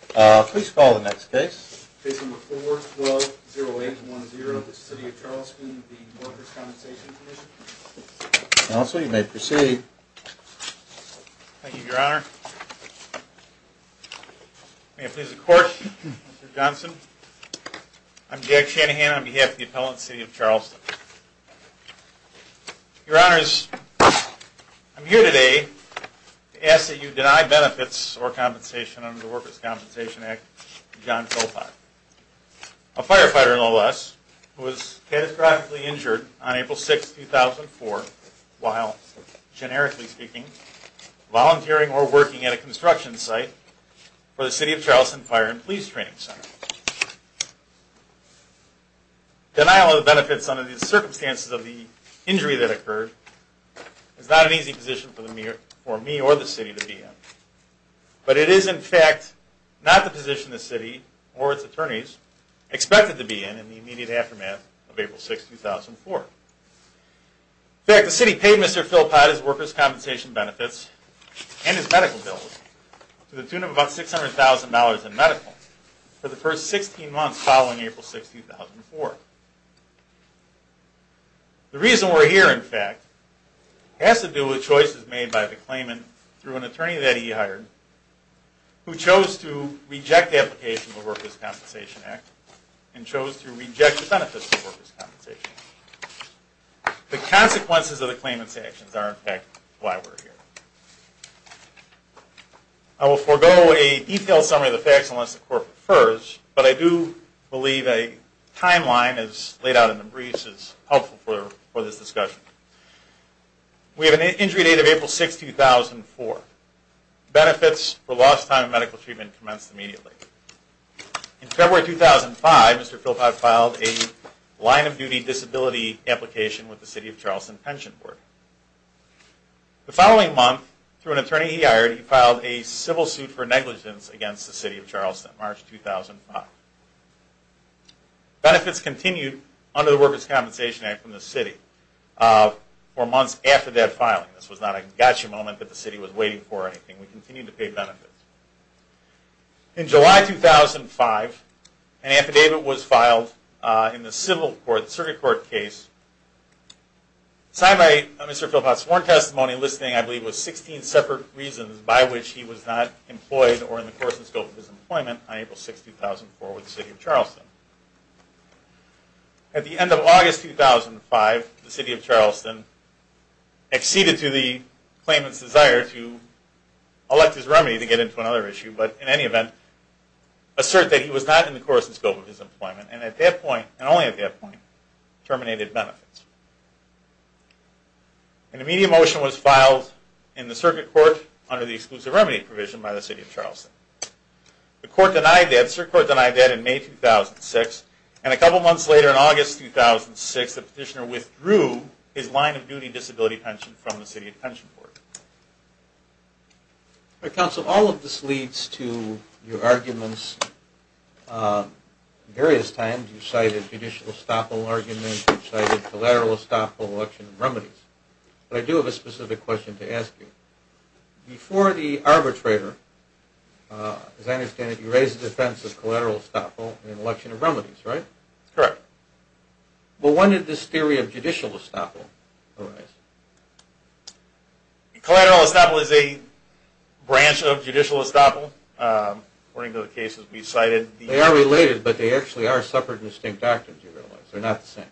Please call the next case. Case number 4-12-0810, the City of Charleston v. Workers' Compensation Commission. Counsel, you may proceed. Thank you, Your Honor. May it please the Court, Mr. Johnson. I'm Jack Shanahan on behalf of the appellant, City of Charleston. Your Honors, I'm here today to ask that you deny benefits or compensation under the Workers' Compensation Act to John Philpott, a firefighter, no less, who was catastrophically injured on April 6, 2004, while, generically speaking, volunteering or working at a construction site for the City of Charleston Fire and Police Training Center. Denial of benefits under the circumstances of the injury that occurred is not an easy position for me or the City to be in, but it is, in fact, not the position the City or its attorneys expected to be in in the immediate aftermath of April 6, 2004. In fact, the City paid Mr. Philpott his workers' compensation benefits and his medical bills to the tune of about $600,000 in medical for the first 16 months following April 6, 2004. The reason we're here, in fact, has to do with choices made by the claimant through an attorney that he hired who chose to reject the application of the Workers' Compensation Act and chose to reject the benefits of workers' compensation. The consequences of the claimant's actions are, in fact, why we're here. I will forego a detailed summary of the facts, unless the Court prefers, but I do believe a timeline as laid out in the briefs is helpful for this discussion. We have an injury date of April 6, 2004. Benefits for lost time in medical treatment commenced immediately. In February 2005, Mr. Philpott filed a line-of-duty disability application with the City of Charleston Pension Board. The following month, through an attorney he hired, he filed a civil suit for negligence against the City of Charleston, March 2005. Benefits continued under the Workers' Compensation Act from the City for months after that filing. This was not a gotcha moment that the City was waiting for or anything. We continued to pay benefits. In July 2005, an affidavit was filed in the civil court, circuit court case, signed by Mr. Philpott's sworn testimony listing, I believe, 16 separate reasons by which he was not employed or in the course and scope of his employment on April 6, 2004 with the City of Charleston. At the end of August 2005, the City of Charleston acceded to the claimant's desire to elect his remedy to get into another issue, but in any event, assert that he was not in the course and scope of his employment. And at that point, and only at that point, terminated benefits. An immediate motion was filed in the circuit court under the exclusive remedy provision by the City of Charleston. The circuit court denied that in May 2006, and a couple months later, in August 2006, the petitioner withdrew his line-of-duty disability pension from the City of Charleston Pension Board. All right, counsel, all of this leads to your arguments various times. You've cited judicial estoppel arguments. You've cited collateral estoppel, election of remedies. But I do have a specific question to ask you. Before the arbitrator, as I understand it, you raised the defense of collateral estoppel and election of remedies, right? Correct. But when did this theory of judicial estoppel arise? Collateral estoppel is a branch of judicial estoppel, according to the cases we cited. They are related, but they actually are separate and distinct actions, you realize. They're not the same.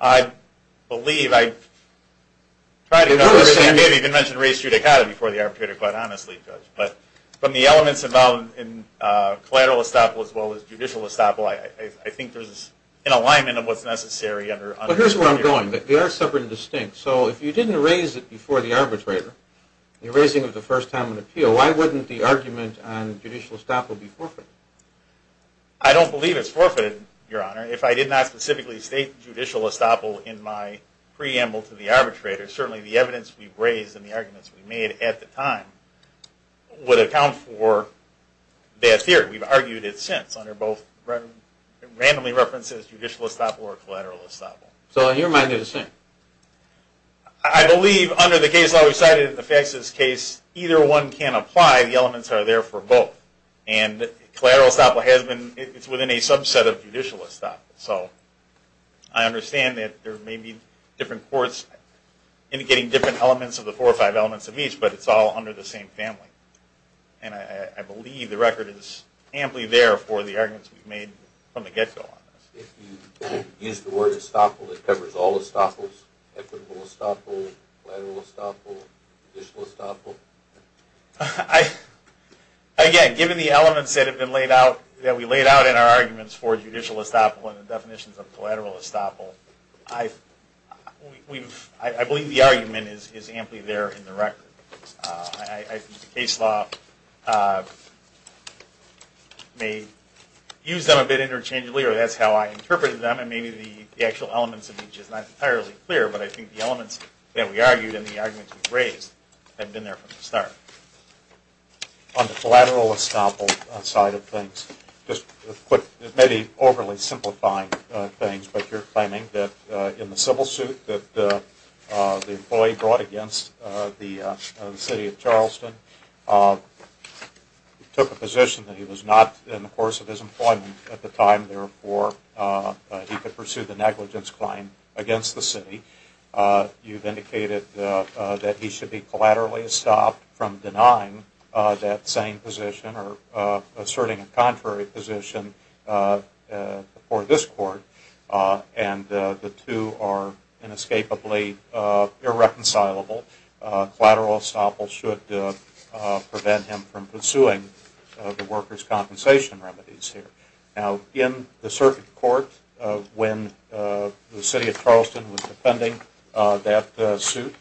I believe I've tried to understand. Maybe you didn't mention race judicata before the arbitrator, quite honestly, Judge. But from the elements involved in collateral estoppel as well as judicial estoppel, I think there's an alignment of what's necessary. But here's where I'm going. They are separate and distinct. So if you didn't raise it before the arbitrator, the raising of the first time of an appeal, why wouldn't the argument on judicial estoppel be forfeited? I don't believe it's forfeited, Your Honor, if I did not specifically state judicial estoppel in my preamble to the arbitrator. Certainly, the evidence we've raised and the arguments we've made at the time would account for that theory. We've argued it since under both randomly referenced judicial estoppel or collateral estoppel. So in your mind, they're the same? I believe under the case law we cited in the Faxes case, either one can apply. The elements are there for both. And collateral estoppel, it's within a subset of judicial estoppel. So I understand that there may be different courts indicating different elements of the four or five elements of each, but it's all under the same family. And I believe the record is amply there for the arguments we've made from the get-go on this. If you use the word estoppel, it covers all estoppels? Equitable estoppel, collateral estoppel, judicial estoppel? Again, given the elements that we laid out in our arguments for judicial estoppel and the definitions of collateral estoppel, I believe the argument is amply there in the record. I think the case law may use them a bit interchangeably, or that's how I interpreted them, and maybe the actual elements of each is not entirely clear, but I think the elements that we argued and the arguments we've raised have been there from the start. On the collateral estoppel side of things, maybe overly simplifying things, but you're claiming that in the civil suit that the employee brought against the city of Charleston, he took a position that he was not in the course of his employment at the time, and therefore he could pursue the negligence claim against the city. You've indicated that he should be collaterally estopped from denying that same position or asserting a contrary position before this court, and the two are inescapably irreconcilable. Collateral estoppel should prevent him from pursuing the workers' compensation remedies here. Now, in the circuit court when the city of Charleston was defending that suit,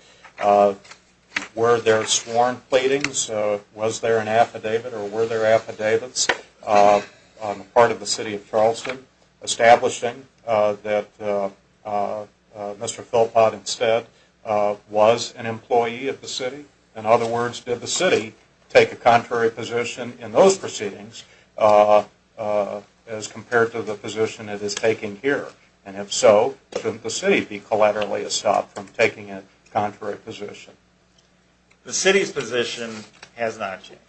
were there sworn pleadings, was there an affidavit or were there affidavits on the part of the city of Charleston establishing that Mr. Philpott instead was an employee of the city? In other words, did the city take a contrary position in those proceedings as compared to the position it is taking here? And if so, shouldn't the city be collaterally estopped from taking a contrary position? The city's position has not changed.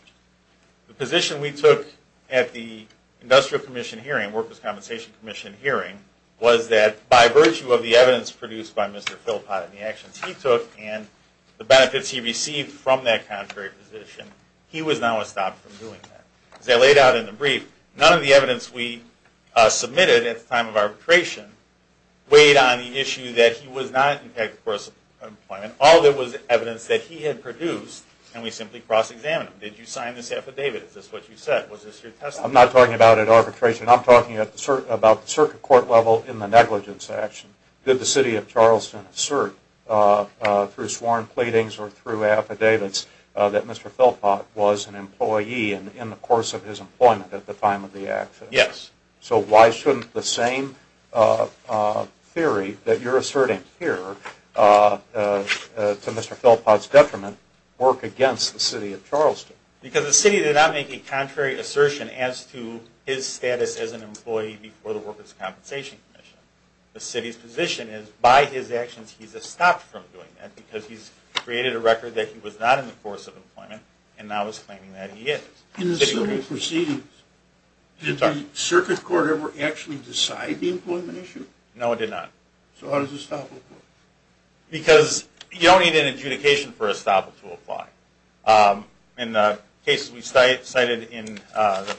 The position we took at the industrial commission hearing, workers' compensation commission hearing, was that by virtue of the evidence produced by Mr. Philpott and the actions he took and the benefits he received from that contrary position, he was now estopped from doing that. As I laid out in the brief, none of the evidence we submitted at the time of arbitration weighed on the issue that he was not in fact a person of employment. All of it was evidence that he had produced, and we simply cross-examined him. Did you sign this affidavit? Is this what you said? Was this your testimony? I'm not talking about at arbitration. I'm talking about the circuit court level in the negligence action. Did the city of Charleston assert through sworn pleadings or through affidavits that Mr. Philpott was an employee in the course of his employment at the time of the accident? Yes. So why shouldn't the same theory that you're asserting here, to Mr. Philpott's detriment, work against the city of Charleston? Because the city did not make a contrary assertion as to his status as an employee before the Workers' Compensation Commission. The city's position is, by his actions, he's estopped from doing that because he's created a record that he was not in the course of employment, and now is claiming that he is. In the civil proceedings, did the circuit court ever actually decide the employment issue? No, it did not. So how does estoppel work? Because you don't need an adjudication for estoppel to apply. In the cases we've cited, in the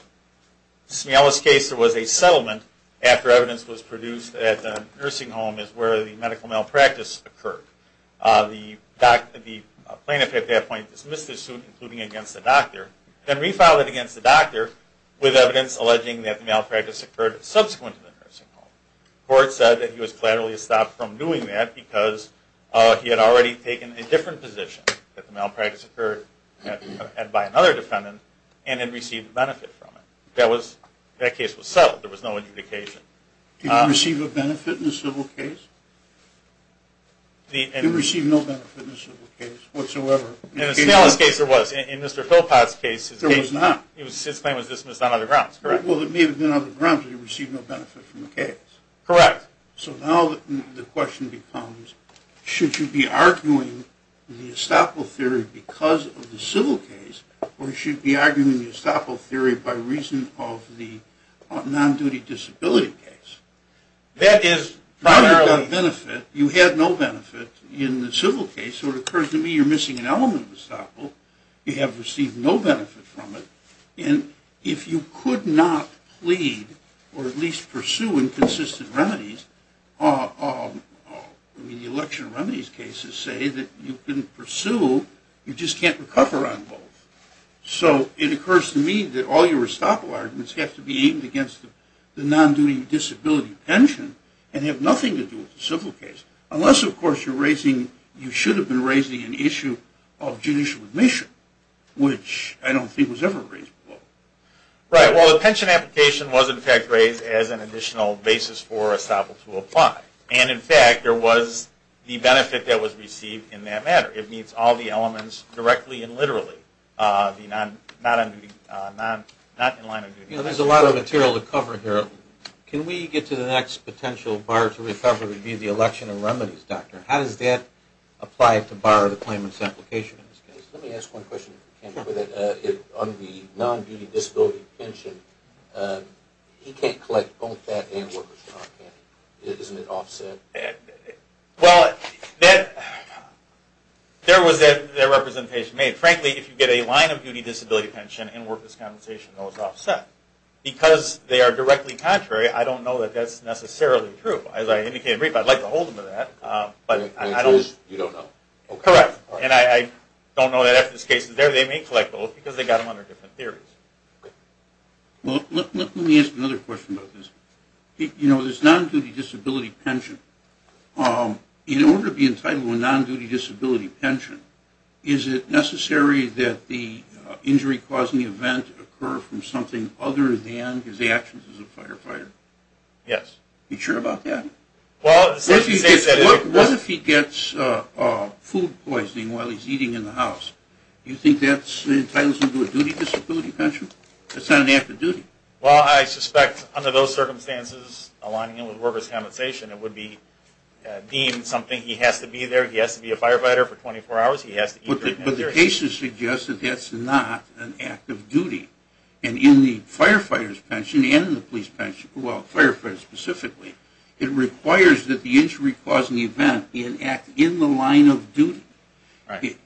Smealis case, there was a settlement after evidence was produced that the nursing home is where the medical malpractice occurred. The plaintiff at that point dismissed the suit, including against the doctor, then refiled it against the doctor with evidence alleging that the malpractice occurred subsequent to the nursing home. The court said that he was collaterally estopped from doing that because he had already taken a different position that the malpractice occurred by another defendant and had received benefit from it. That case was settled. There was no adjudication. Did he receive a benefit in the civil case? He received no benefit in the civil case whatsoever. In the Smealis case, there was. In Mr. Philpott's case, his claim was dismissed on other grounds. Well, it may have been on other grounds, but he received no benefit from the case. Correct. So now the question becomes, should you be arguing the estoppel theory because of the civil case, or should you be arguing the estoppel theory by reason of the non-duty disability case? That is primarily... You had no benefit in the civil case, so it occurs to me you're missing an element of estoppel. You have received no benefit from it. If you could not plead or at least pursue inconsistent remedies, the election remedies cases say that you can pursue, you just can't recover on both. So it occurs to me that all your estoppel arguments have to be aimed against the non-duty disability pension and have nothing to do with the civil case, unless, of course, you should have been raising an issue of judicial admission, which I don't think was ever raised before. Right. Well, the pension application was, in fact, raised as an additional basis for estoppel to apply. And, in fact, there was the benefit that was received in that matter. It meets all the elements directly and literally, not in line of duty. There's a lot of material to cover here. Can we get to the next potential bar to recover would be the election of remedies, Doctor? How does that apply to bar the claimant's application in this case? Let me ask one question. On the non-duty disability pension, he can't collect both that and workers' compensation, can he? Isn't it offset? Well, there was that representation made. Frankly, if you get a line of duty disability pension and workers' compensation, it's offset. Because they are directly contrary, I don't know that that's necessarily true. As I indicated in brief, I'd like to hold them to that. You don't know? Correct. And I don't know that if this case is there, they may collect both because they got them under different theories. Let me ask another question about this. You know, this non-duty disability pension, in order to be entitled to a non-duty disability pension, is it necessary that the injury caused in the event occur from something other than his actions as a firefighter? Yes. Are you sure about that? What if he gets food poisoning while he's eating in the house? Do you think that entitles him to a duty disability pension? It's not an act of duty. Well, I suspect under those circumstances, aligning it with workers' compensation, it would mean something. He has to be there. He has to be a firefighter for 24 hours. But the case has suggested that's not an act of duty. And in the firefighter's pension and the police pension, well, firefighters specifically, it requires that the injury caused in the event be an act in the line of duty.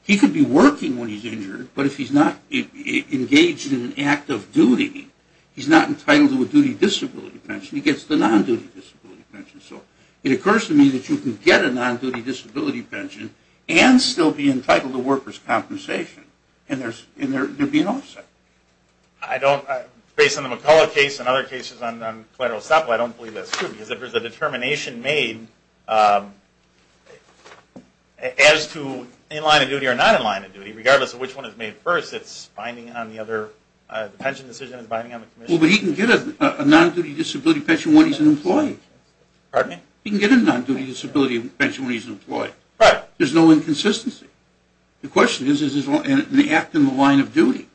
He could be working when he's injured, but if he's not engaged in an act of duty, he's not entitled to a duty disability pension. He gets the non-duty disability pension. So it occurs to me that you can get a non-duty disability pension and still be entitled to workers' compensation, and there'd be an offset. Based on the McCullough case and other cases on collateral supple, I don't believe that's true because if there's a determination made as to in line of duty or not in line of duty, regardless of which one is made first, the pension decision is binding on the commission. Well, but he can get a non-duty disability pension when he's an employee. Pardon me? Right. There's no inconsistency. The question is, is it an act in the line of duty?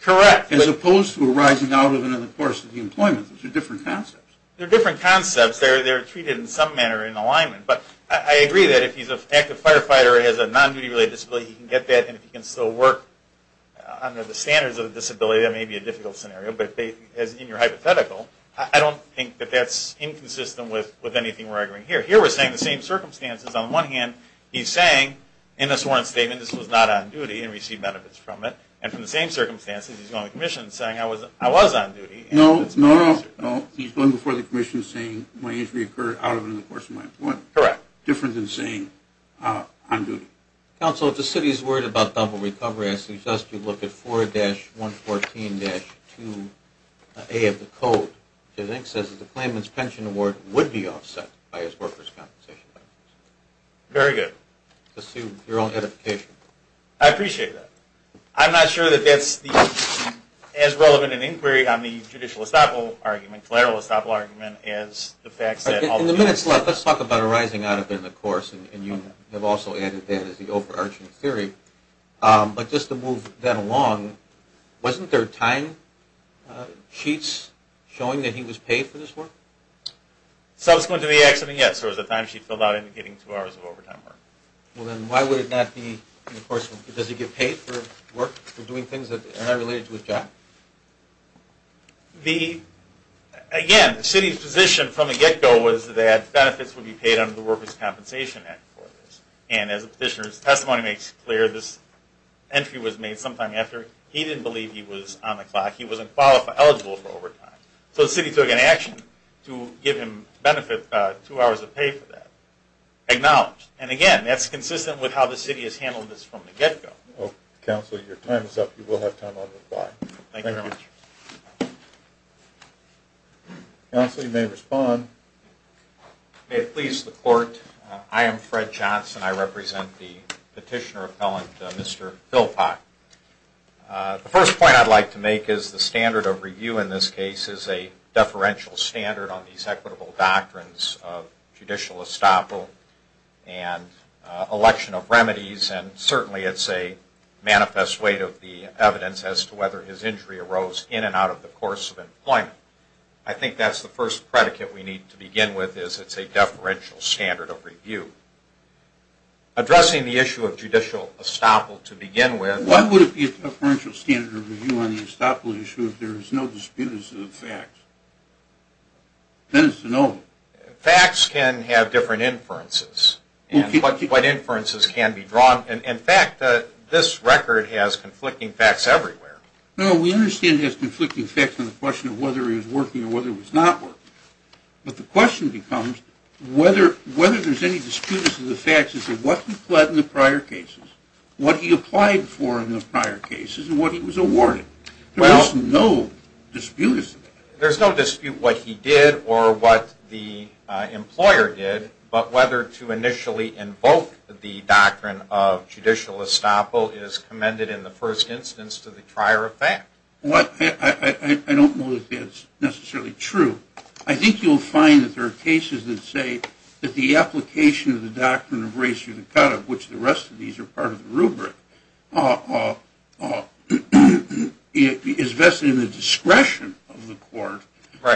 Correct. As opposed to arising out of it in the course of the employment. Those are different concepts. They're different concepts. They're treated in some manner in alignment. But I agree that if he's an active firefighter, has a non-duty-related disability, he can get that, and if he can still work under the standards of a disability, that may be a difficult scenario. But in your hypothetical, I don't think that that's inconsistent with anything we're arguing here. Here we're saying the same circumstances. On the one hand, he's saying in a sworn statement, this was not on duty and received benefits from it. And from the same circumstances, he's going to the commission saying, I was on duty. No, no, no. He's going before the commission saying my injury occurred out of it in the course of my employment. Correct. Different than saying on duty. Counsel, if the city is worried about double recovery, I suggest you look at 4-114-2A of the code, which I think says the claimant's pension award would be offset by his workers' compensation. Very good. Assume your own edification. I appreciate that. I'm not sure that that's as relevant an inquiry on the judicial estoppel argument, collateral estoppel argument, as the facts that all of you have. In the minutes left, let's talk about a rising out of it in the course, and you have also added that as the overarching theory. But just to move that along, wasn't there time sheets showing that he was paid for this work? Subsequent to the accident, yes. There was a time sheet filled out indicating two hours of overtime work. Well, then why would it not be in the course of work? Does he get paid for work, for doing things that are not related to his job? Again, the city's position from the get-go was that benefits would be paid under the Workers' Compensation Act. And as the petitioner's testimony makes clear, this entry was made sometime after. He didn't believe he was on the clock. He wasn't eligible for overtime. So the city took an action to give him benefit, two hours of pay for that. Acknowledged. And again, that's consistent with how the city has handled this from the get-go. Counsel, your time is up. You will have time on reply. Thank you very much. Counsel, you may respond. May it please the Court, I am Fred Johnson. I represent the petitioner appellant, Mr. Philpott. The first point I'd like to make is the standard of review in this case is a deferential standard on these equitable doctrines of judicial estoppel and election of remedies, and certainly it's a manifest weight of the evidence as to whether his injury arose in and out of the course of employment. I think that's the first predicate we need to begin with is it's a deferential standard of review. Addressing the issue of judicial estoppel to begin with. Why would it be a deferential standard of review on the estoppel issue if there is no dispute as to the facts? Facts can have different inferences, and what inferences can be drawn. In fact, this record has conflicting facts everywhere. No, we understand it has conflicting facts on the question of whether he was working or whether he was not working. But the question becomes whether there's any dispute as to the facts as to what he pled in the prior cases, what he applied for in the prior cases, and what he was awarded. There's no dispute as to that. There's no dispute what he did or what the employer did, but whether to initially invoke the doctrine of judicial estoppel is commended in the first instance to the trier of fact. I don't know that that's necessarily true. I think you'll find that there are cases that say that the application of the doctrine of res judicata, which the rest of these are part of the rubric, is vested in the discretion of the court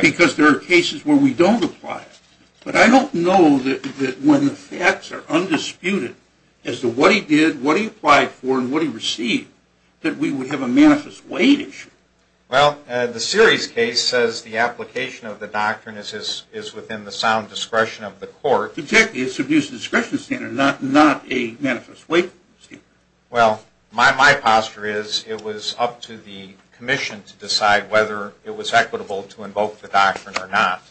because there are cases where we don't apply it. But I don't know that when the facts are undisputed as to what he did, what he applied for, and what he received, that we would have a manifest weight issue. Well, the series case says the application of the doctrine is within the sound discretion of the court. Exactly. It's a discretion standard, not a manifest weight. Well, my posture is it was up to the commission to decide whether it was equitable to invoke the doctrine or not,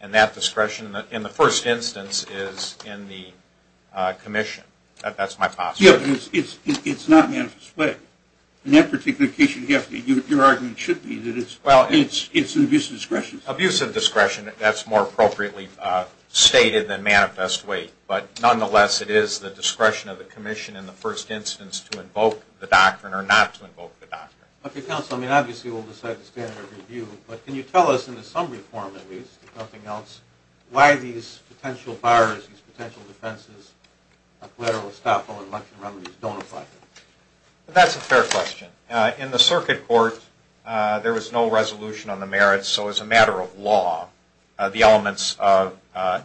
and that discretion in the first instance is in the commission. That's my posture. Yeah, but it's not manifest weight. In that particular case, your argument should be that it's an abuse of discretion. Abuse of discretion, that's more appropriately stated than manifest weight, but nonetheless it is the discretion of the commission in the first instance to invoke the doctrine or not to invoke the doctrine. Okay, counsel, I mean, obviously we'll decide the standard of review, but can you tell us in the summary form at least, if nothing else, why these potential bars, these potential defenses of collateral estoppel and election remedies don't apply? That's a fair question. In the circuit court, there was no resolution on the merits, so as a matter of law, the elements of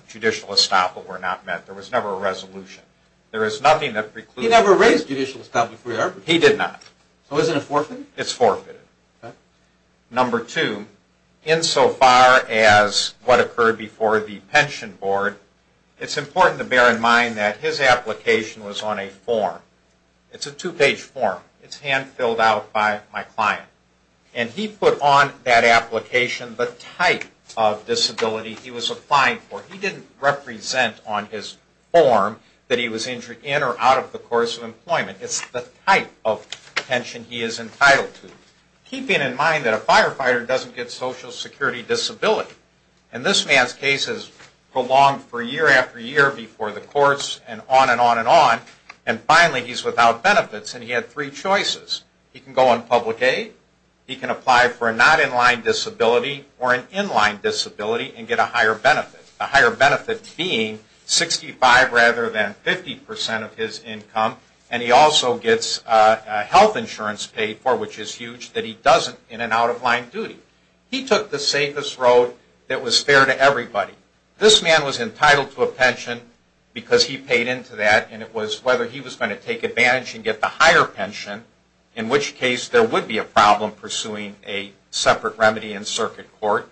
judicial estoppel were not met. There was never a resolution. There is nothing that precludes it. He never raised judicial estoppel before he argued. He did not. So is it a forfeit? It's forfeited. Number two, insofar as what occurred before the pension board, it's important to bear in mind that his application was on a form. It's a two-page form. It's hand-filled out by my client. And he put on that application the type of disability he was applying for. He didn't represent on his form that he was injured in or out of the course of employment. It's the type of pension he is entitled to, keeping in mind that a firefighter doesn't get Social Security disability. And this man's case has prolonged for year after year before the courts and on and on and on. And finally, he's without benefits, and he had three choices. He can go on public aid. He can apply for a not-in-line disability or an in-line disability and get a higher benefit, a higher benefit being 65% rather than 50% of his income. And he also gets health insurance paid for, which is huge, that he doesn't in an out-of-line duty. He took the safest road that was fair to everybody. This man was entitled to a pension because he paid into that, and it was whether he was going to take advantage and get the higher pension, in which case there would be a problem pursuing a separate remedy in circuit court.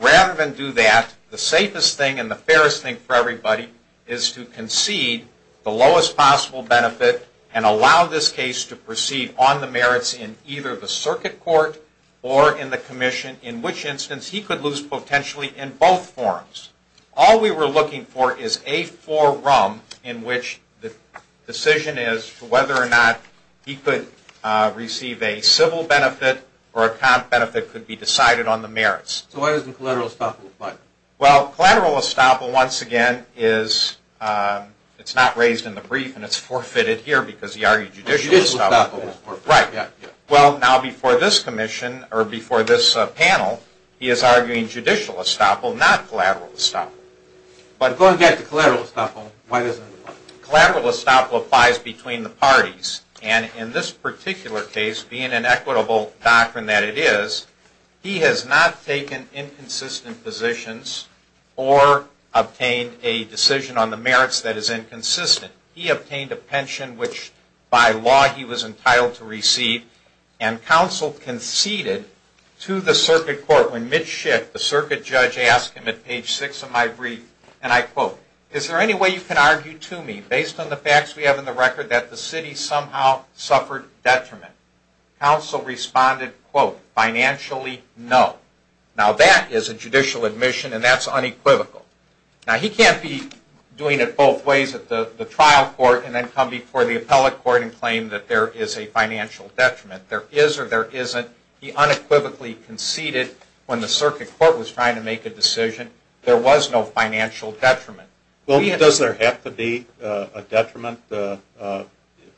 Rather than do that, the safest thing and the fairest thing for everybody is to concede the lowest possible benefit and allow this case to proceed on the merits in either the circuit court or in the commission, in which instance he could lose potentially in both forms. All we were looking for is a forum in which the decision is whether or not he could receive a civil benefit or a comp benefit could be decided on the merits. So why doesn't collateral estoppel apply? Well, collateral estoppel once again is, it's not raised in the brief, and it's forfeited here because he argued judicial estoppel. Well, now before this panel, he is arguing judicial estoppel, not collateral estoppel. But going back to collateral estoppel, why doesn't it apply? Collateral estoppel applies between the parties, and in this particular case, being an equitable doctrine that it is, he has not taken inconsistent positions or obtained a decision on the merits that is inconsistent. He obtained a pension, which by law he was entitled to receive, and counsel conceded to the circuit court. When mid-shift, the circuit judge asked him at page 6 of my brief, and I quote, Is there any way you can argue to me, based on the facts we have in the record, that the city somehow suffered detriment? Counsel responded, quote, Financially, no. Now that is a judicial admission, and that's unequivocal. Now, he can't be doing it both ways at the trial court and then come before the appellate court and claim that there is a financial detriment. There is or there isn't. He unequivocally conceded when the circuit court was trying to make a decision. There was no financial detriment. Well, does there have to be a detriment for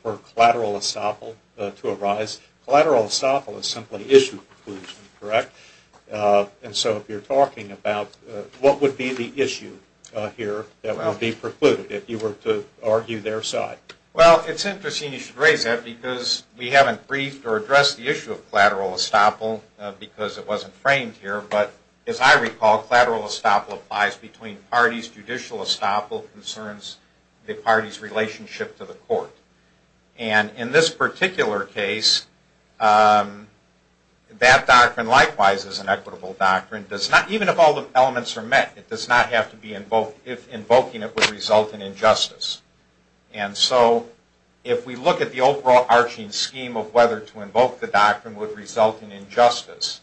collateral estoppel to arise? Collateral estoppel is simply issue preclusion, correct? And so if you're talking about what would be the issue here that would be precluded, if you were to argue their side? Well, it's interesting you should raise that because we haven't briefed or addressed the issue of collateral estoppel because it wasn't framed here, but as I recall, collateral estoppel applies between parties. Judicial estoppel concerns the party's relationship to the court. And in this particular case, that doctrine likewise is an equitable doctrine. Even if all the elements are met, invoking it would result in injustice. And so if we look at the overall arching scheme of whether to invoke the doctrine would result in injustice,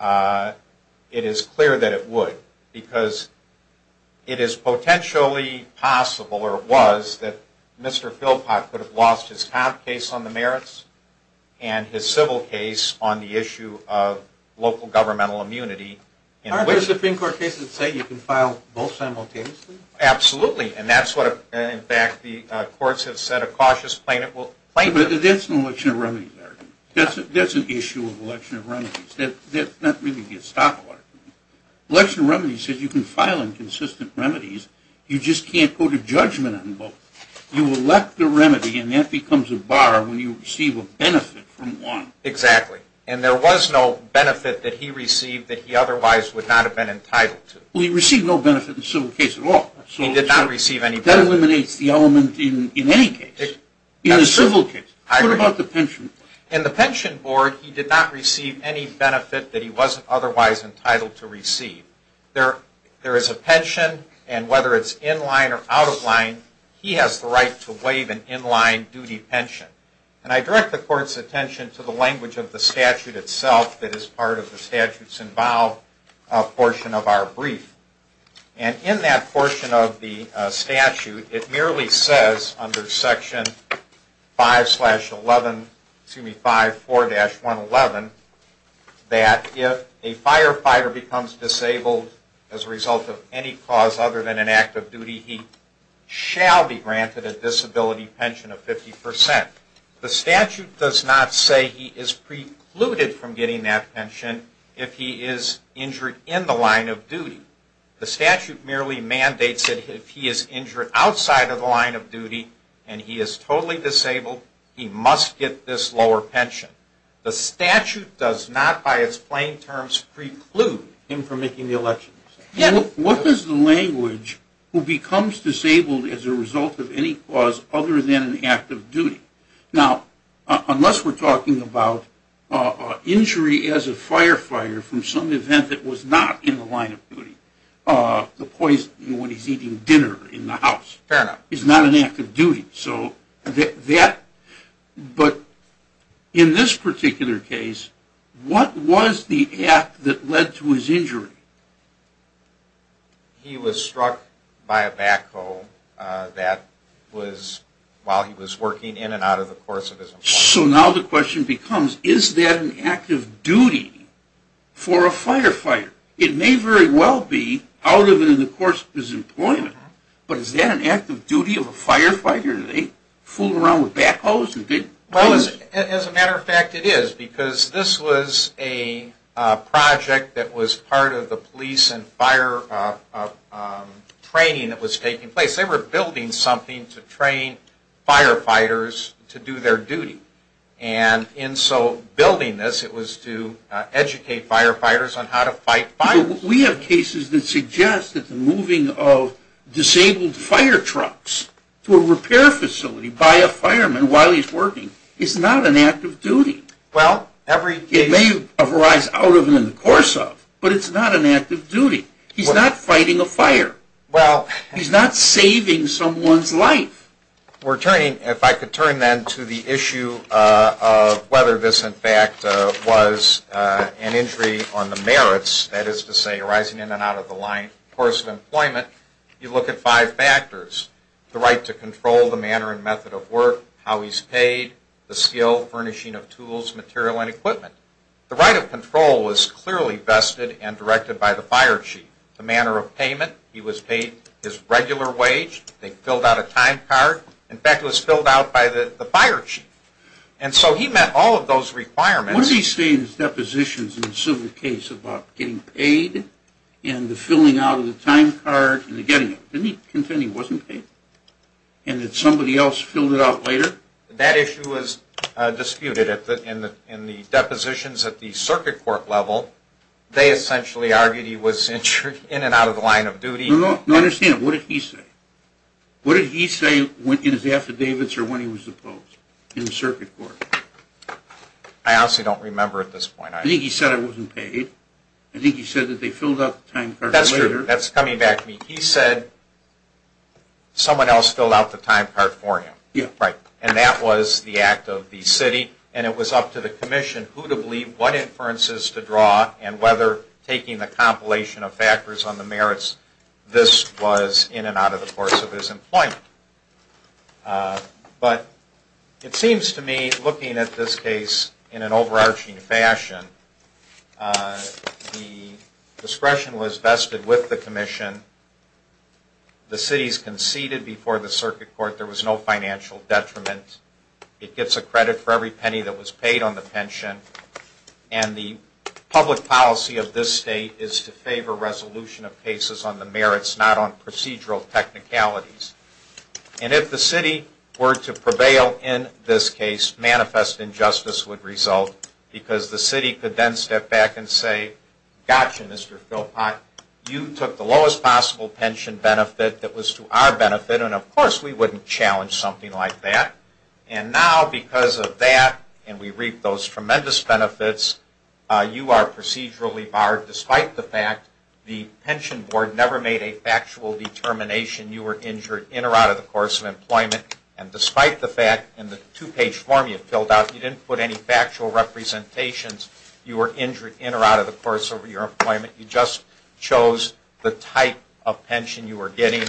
it is clear that it would. Because it is potentially possible, or was, that Mr. Philpott could have lost his top case on the merits and his civil case on the issue of local governmental immunity. Aren't there Supreme Court cases that say you can file both simultaneously? Absolutely. And that's what, in fact, the courts have said a cautious plaintiff... But that's an election of remedies argument. That's an issue of election of remedies. That's not really the estoppel argument. Election of remedies says you can file inconsistent remedies, you just can't go to judgment on both. You elect the remedy and that becomes a bar when you receive a benefit from one. Exactly. And there was no benefit that he received that he otherwise would not have been entitled to. Well, he received no benefit in the civil case at all. He did not receive any benefit. That eliminates the element in any case. In the civil case. What about the pension? In the pension board, he did not receive any benefit that he was otherwise entitled to receive. There is a pension, and whether it's in-line or out-of-line, he has the right to waive an in-line duty pension. And I direct the Court's attention to the language of the statute itself that is part of the statutes involved portion of our brief. And in that portion of the statute, it merely says under Section 5.4-11 that if a firefighter becomes disabled as a result of any cause other than an act of duty, he shall be granted a disability pension of 50%. The statute does not say he is precluded from getting that pension if he is injured in the line of duty. The statute merely mandates that if he is injured outside of the line of duty and he is totally disabled, he must get this lower pension. The statute does not by its plain terms preclude him from making the election. What is the language who becomes disabled as a result of any cause other than an act of duty? Now, unless we're talking about injury as a firefighter from some event that was not in the line of duty, the poison when he's eating dinner in the house. Fair enough. It's not an act of duty. But in this particular case, what was the act that led to his injury? He was struck by a backhoe while he was working in and out of the course of his employment. So now the question becomes, is that an act of duty for a firefighter? It may very well be out of and in the course of his employment, but is that an act of duty of a firefighter? Did they fool around with backhoes? As a matter of fact, it is, because this was a project that was part of the police and fire training that was taking place. They were building something to train firefighters to do their duty. And so building this, it was to educate firefighters on how to fight fires. We have cases that suggest that the moving of disabled firetrucks to a repair facility by a fireman while he's working is not an act of duty. It may arise out of and in the course of, but it's not an act of duty. He's not fighting a fire. He's not saving someone's life. If I could turn then to the issue of whether this, in fact, was an injury on the merits, that is to say arising in and out of the line of course of employment, you look at five factors, the right to control, the manner and method of work, how he's paid, the skill, furnishing of tools, material, and equipment. The right of control was clearly vested and directed by the fire chief. The manner of payment, he was paid his regular wage. They filled out a time card. In fact, it was filled out by the fire chief. And so he met all of those requirements. What did he say in his depositions in the civil case about getting paid and the filling out of the time card and the getting it? Didn't he contend he wasn't paid? And that somebody else filled it out later? That issue was disputed in the depositions at the circuit court level. They essentially argued he was injured in and out of the line of duty. No, no. No, I understand. What did he say? What did he say in his affidavits or when he was opposed in the circuit court? I honestly don't remember at this point. I think he said I wasn't paid. I think he said that they filled out the time card later. That's true. That's coming back to me. He said someone else filled out the time card for him. Yeah. Right. And that was the act of the city. And it was up to the commission who to believe, what inferences to draw, and whether taking the compilation of factors on the merits, this was in and out of the course of his employment. But it seems to me, looking at this case in an overarching fashion, the discretion was vested with the commission. The city's conceded before the circuit court there was no financial detriment. It gets a credit for every penny that was paid on the pension. And the public policy of this state is to favor resolution of cases on the merits, not on procedural technicalities. And if the city were to prevail in this case, manifest injustice would result because the city could then step back and say, Gotcha, Mr. Philpott. You took the lowest possible pension benefit that was to our benefit, and of course we wouldn't challenge something like that. And now because of that, and we reap those tremendous benefits, you are procedurally barred despite the fact the pension board never made a You were injured in or out of the course of employment. And despite the fact in the two-page form you filled out, you didn't put any factual representations. You were injured in or out of the course of your employment. You just chose the type of pension you were getting.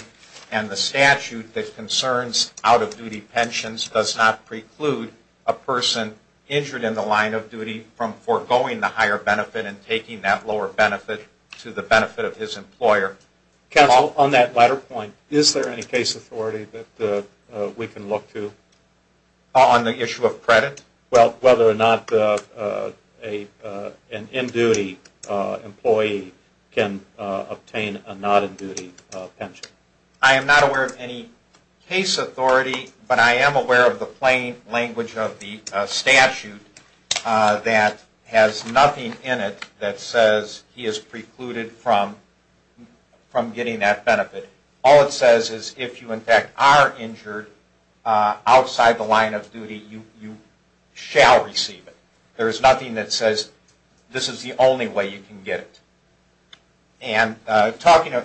And the statute that concerns out-of-duty pensions does not preclude a person injured in the line of duty from foregoing the higher benefit and taking that lower benefit to the benefit of his employer. Counsel, on that latter point, is there any case authority that we can look to? On the issue of credit? Well, whether or not an in-duty employee can obtain a not-in-duty pension. I am not aware of any case authority, but I am aware of the plain language of the statute that has nothing in it that says he is precluded from getting that benefit. All it says is if you, in fact, are injured outside the line of duty, you shall receive it. There is nothing that says this is the only way you can get it. And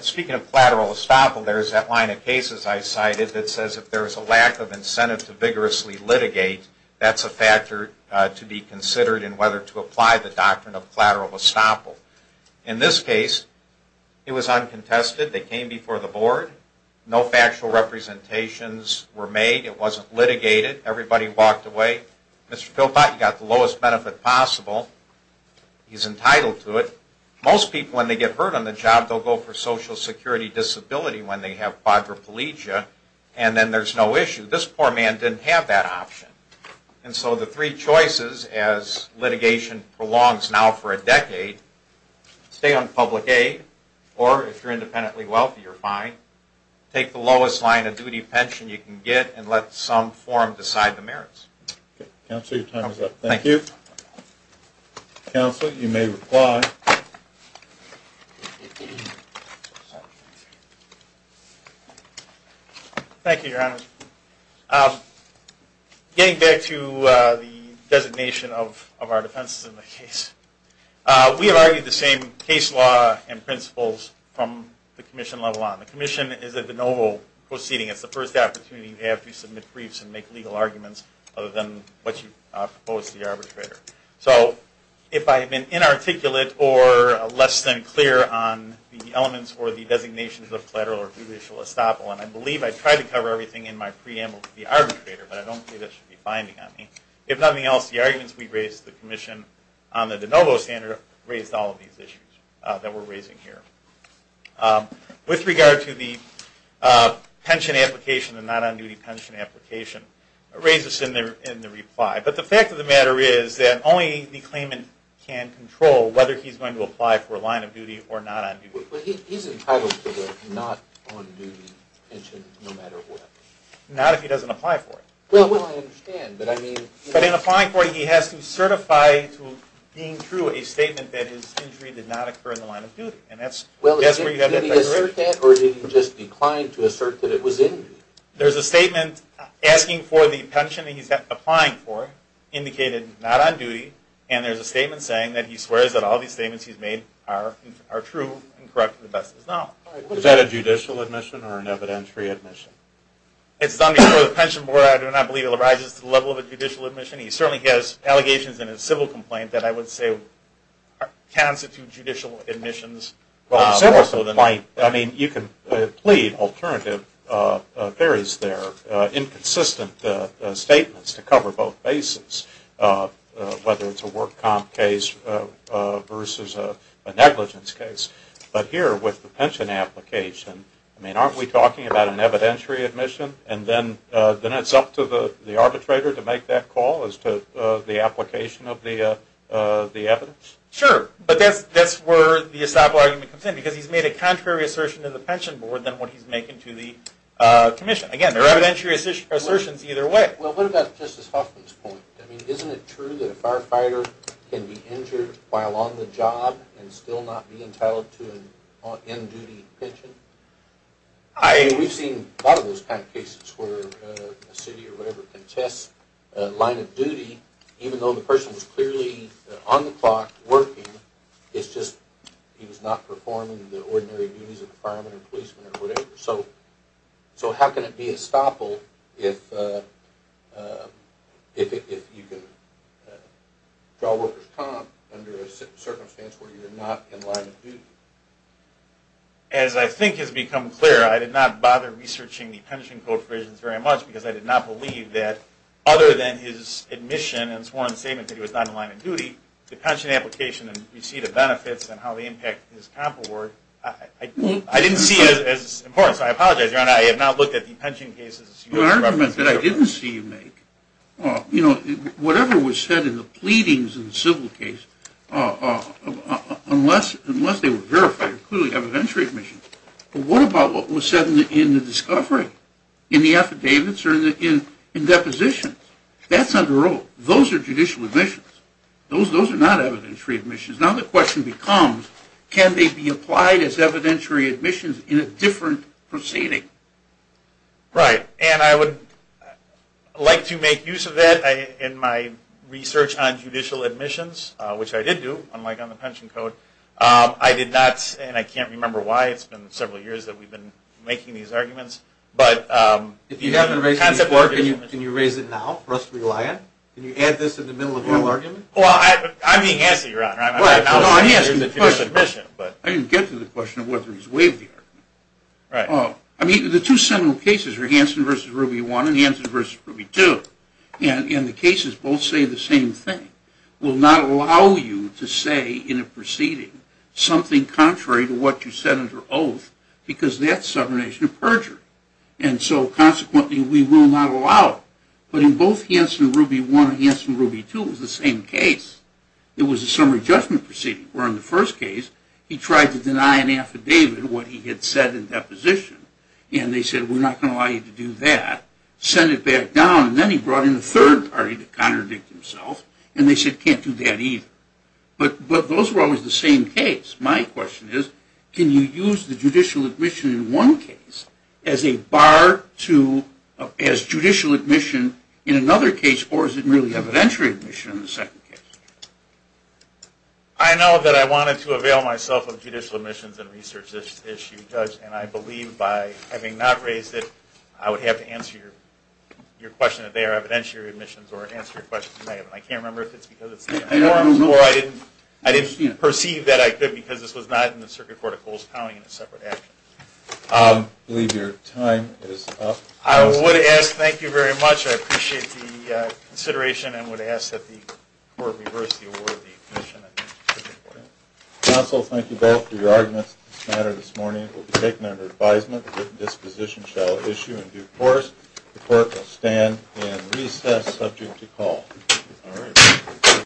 speaking of collateral estoppel, there is that line of cases I cited that says if there is a lack of incentive to vigorously litigate, that is a factor to be considered in whether to apply the doctrine of collateral estoppel. In this case, it was uncontested. They came before the board. No factual representations were made. It wasn't litigated. Everybody walked away. Mr. Philpott got the lowest benefit possible. He is entitled to it. Most people, when they get hurt on the job, they will go for Social Security Disability when they have quadriplegia, and then there is no issue. This poor man didn't have that option. And so the three choices, as litigation prolongs now for a decade, stay on public aid or, if you're independently wealthy, you're fine. Take the lowest line of duty pension you can get and let some forum decide the merits. Counsel, your time is up. Thank you. Counsel, you may reply. Thank you, Your Honor. Getting back to the designation of our defense in the case, we have argued the same case law and principles from the commission level on. The commission is a de novo proceeding. It's the first opportunity you have to submit briefs and make legal arguments other than what you propose to the arbitrator. So if I have been inarticulate or less than clear on the elements or the designations of collateral or judicial estoppel, and I believe I tried to cover everything in my preamble to the arbitrator, but I don't think that should be binding on me. If nothing else, the arguments we raised to the commission on the de novo standard raised all of these issues that we're raising here. With regard to the pension application, the not on duty pension application, raises in the reply. But the fact of the matter is that only the claimant can control whether he's going to apply for a line of duty or not on duty. But he's entitled to the not on duty pension no matter what. Not if he doesn't apply for it. Well, I understand, but I mean. But in applying for it, he has to certify to being true a statement that his injury did not occur in the line of duty. And that's where you have that consideration. Did he assert that or did he just decline to assert that it was in duty? There's a statement asking for the pension that he's applying for, indicated not on duty, and there's a statement saying that he swears that all these statements he's made are true and correct to the best of his knowledge. Is that a judicial admission or an evidence-free admission? It's done before the pension board. I do not believe it arises to the level of a judicial admission. He certainly has allegations in his civil complaint that I would say constitute judicial admissions. I mean, you can plead alternative theories there, inconsistent statements to cover both bases, whether it's a work comp case versus a negligence case. But here with the pension application, I mean, aren't we talking about an evidentiary admission? And then it's up to the arbitrator to make that call as to the application of the evidence? Sure. But that's where the estoppel argument comes in, because he's made a contrary assertion to the pension board than what he's making to the commission. Again, they're evidentiary assertions either way. Well, what about Justice Huffman's point? I mean, isn't it true that a firefighter can be injured while on the job and still not be entitled to an in-duty pension? I mean, we've seen a lot of those kind of cases where a city or whatever contests a line of duty, even though the person was clearly on the clock working, it's just he was not performing the ordinary duties of a fireman or policeman or whatever. So how can it be estoppel if you can draw a worker's comp under a circumstance where you're not in line of duty? As I think has become clear, I did not bother researching the pension code provisions very much because I did not believe that other than his admission and sworn statement that he was not in line of duty, the pension application and receipt of benefits and how they impact his comp award, I didn't see as important. So I apologize, Your Honor. I have not looked at the pension cases. The argument that I didn't see you make, whatever was said in the pleadings in the civil case, unless they were verified, clearly evidentiary admission. But what about what was said in the discovery, in the affidavits or in depositions? That's under oath. Those are judicial admissions. Those are not evidentiary admissions. Now the question becomes, can they be applied as evidentiary admissions in a different proceeding? Right. And I would like to make use of that in my research on judicial admissions, which I did do, unlike on the pension code. I did not, and I can't remember why, it's been several years that we've been making these arguments. If you haven't raised it before, can you raise it now for us to rely on? Can you add this in the middle of your argument? Well, I'm being answered, Your Honor. No, I'm asking the question. I didn't get to the question of whether he's waived the argument. I mean, the two seminal cases were Hanson v. Ruby I and Hanson v. Ruby II, and the cases both say the same thing. We'll not allow you to say in a proceeding something contrary to what you said under oath because that's subordination of perjury. And so, consequently, we will not allow it. But in both Hanson v. Ruby I and Hanson v. Ruby II, it was the same case. It was a summary judgment proceeding, where in the first case, he tried to deny an affidavit what he had said in deposition, and they said, we're not going to allow you to do that. Sent it back down, and then he brought in a third party to contradict himself, and they said, can't do that either. But those were always the same case. My question is, can you use the judicial admission in one case as a bar to judicial admission in another case, or is it really evidentiary admission in the second case? I know that I wanted to avail myself of judicial admissions and research this issue, Judge, and I believe by having not raised it, I would have to answer your question that they are evidentiary admissions or answer your question negatively. I can't remember if it's because it's negative or I didn't perceive that I could because this was not in the circuit court of Goldstown in a separate action. I believe your time is up. I would ask, thank you very much. I appreciate the consideration and would ask that the court reverse the award of the admission. Counsel, thank you both for your arguments in this matter this morning. It will be taken under advisement that the disposition shall issue in due course. The court will stand and recess subject to call.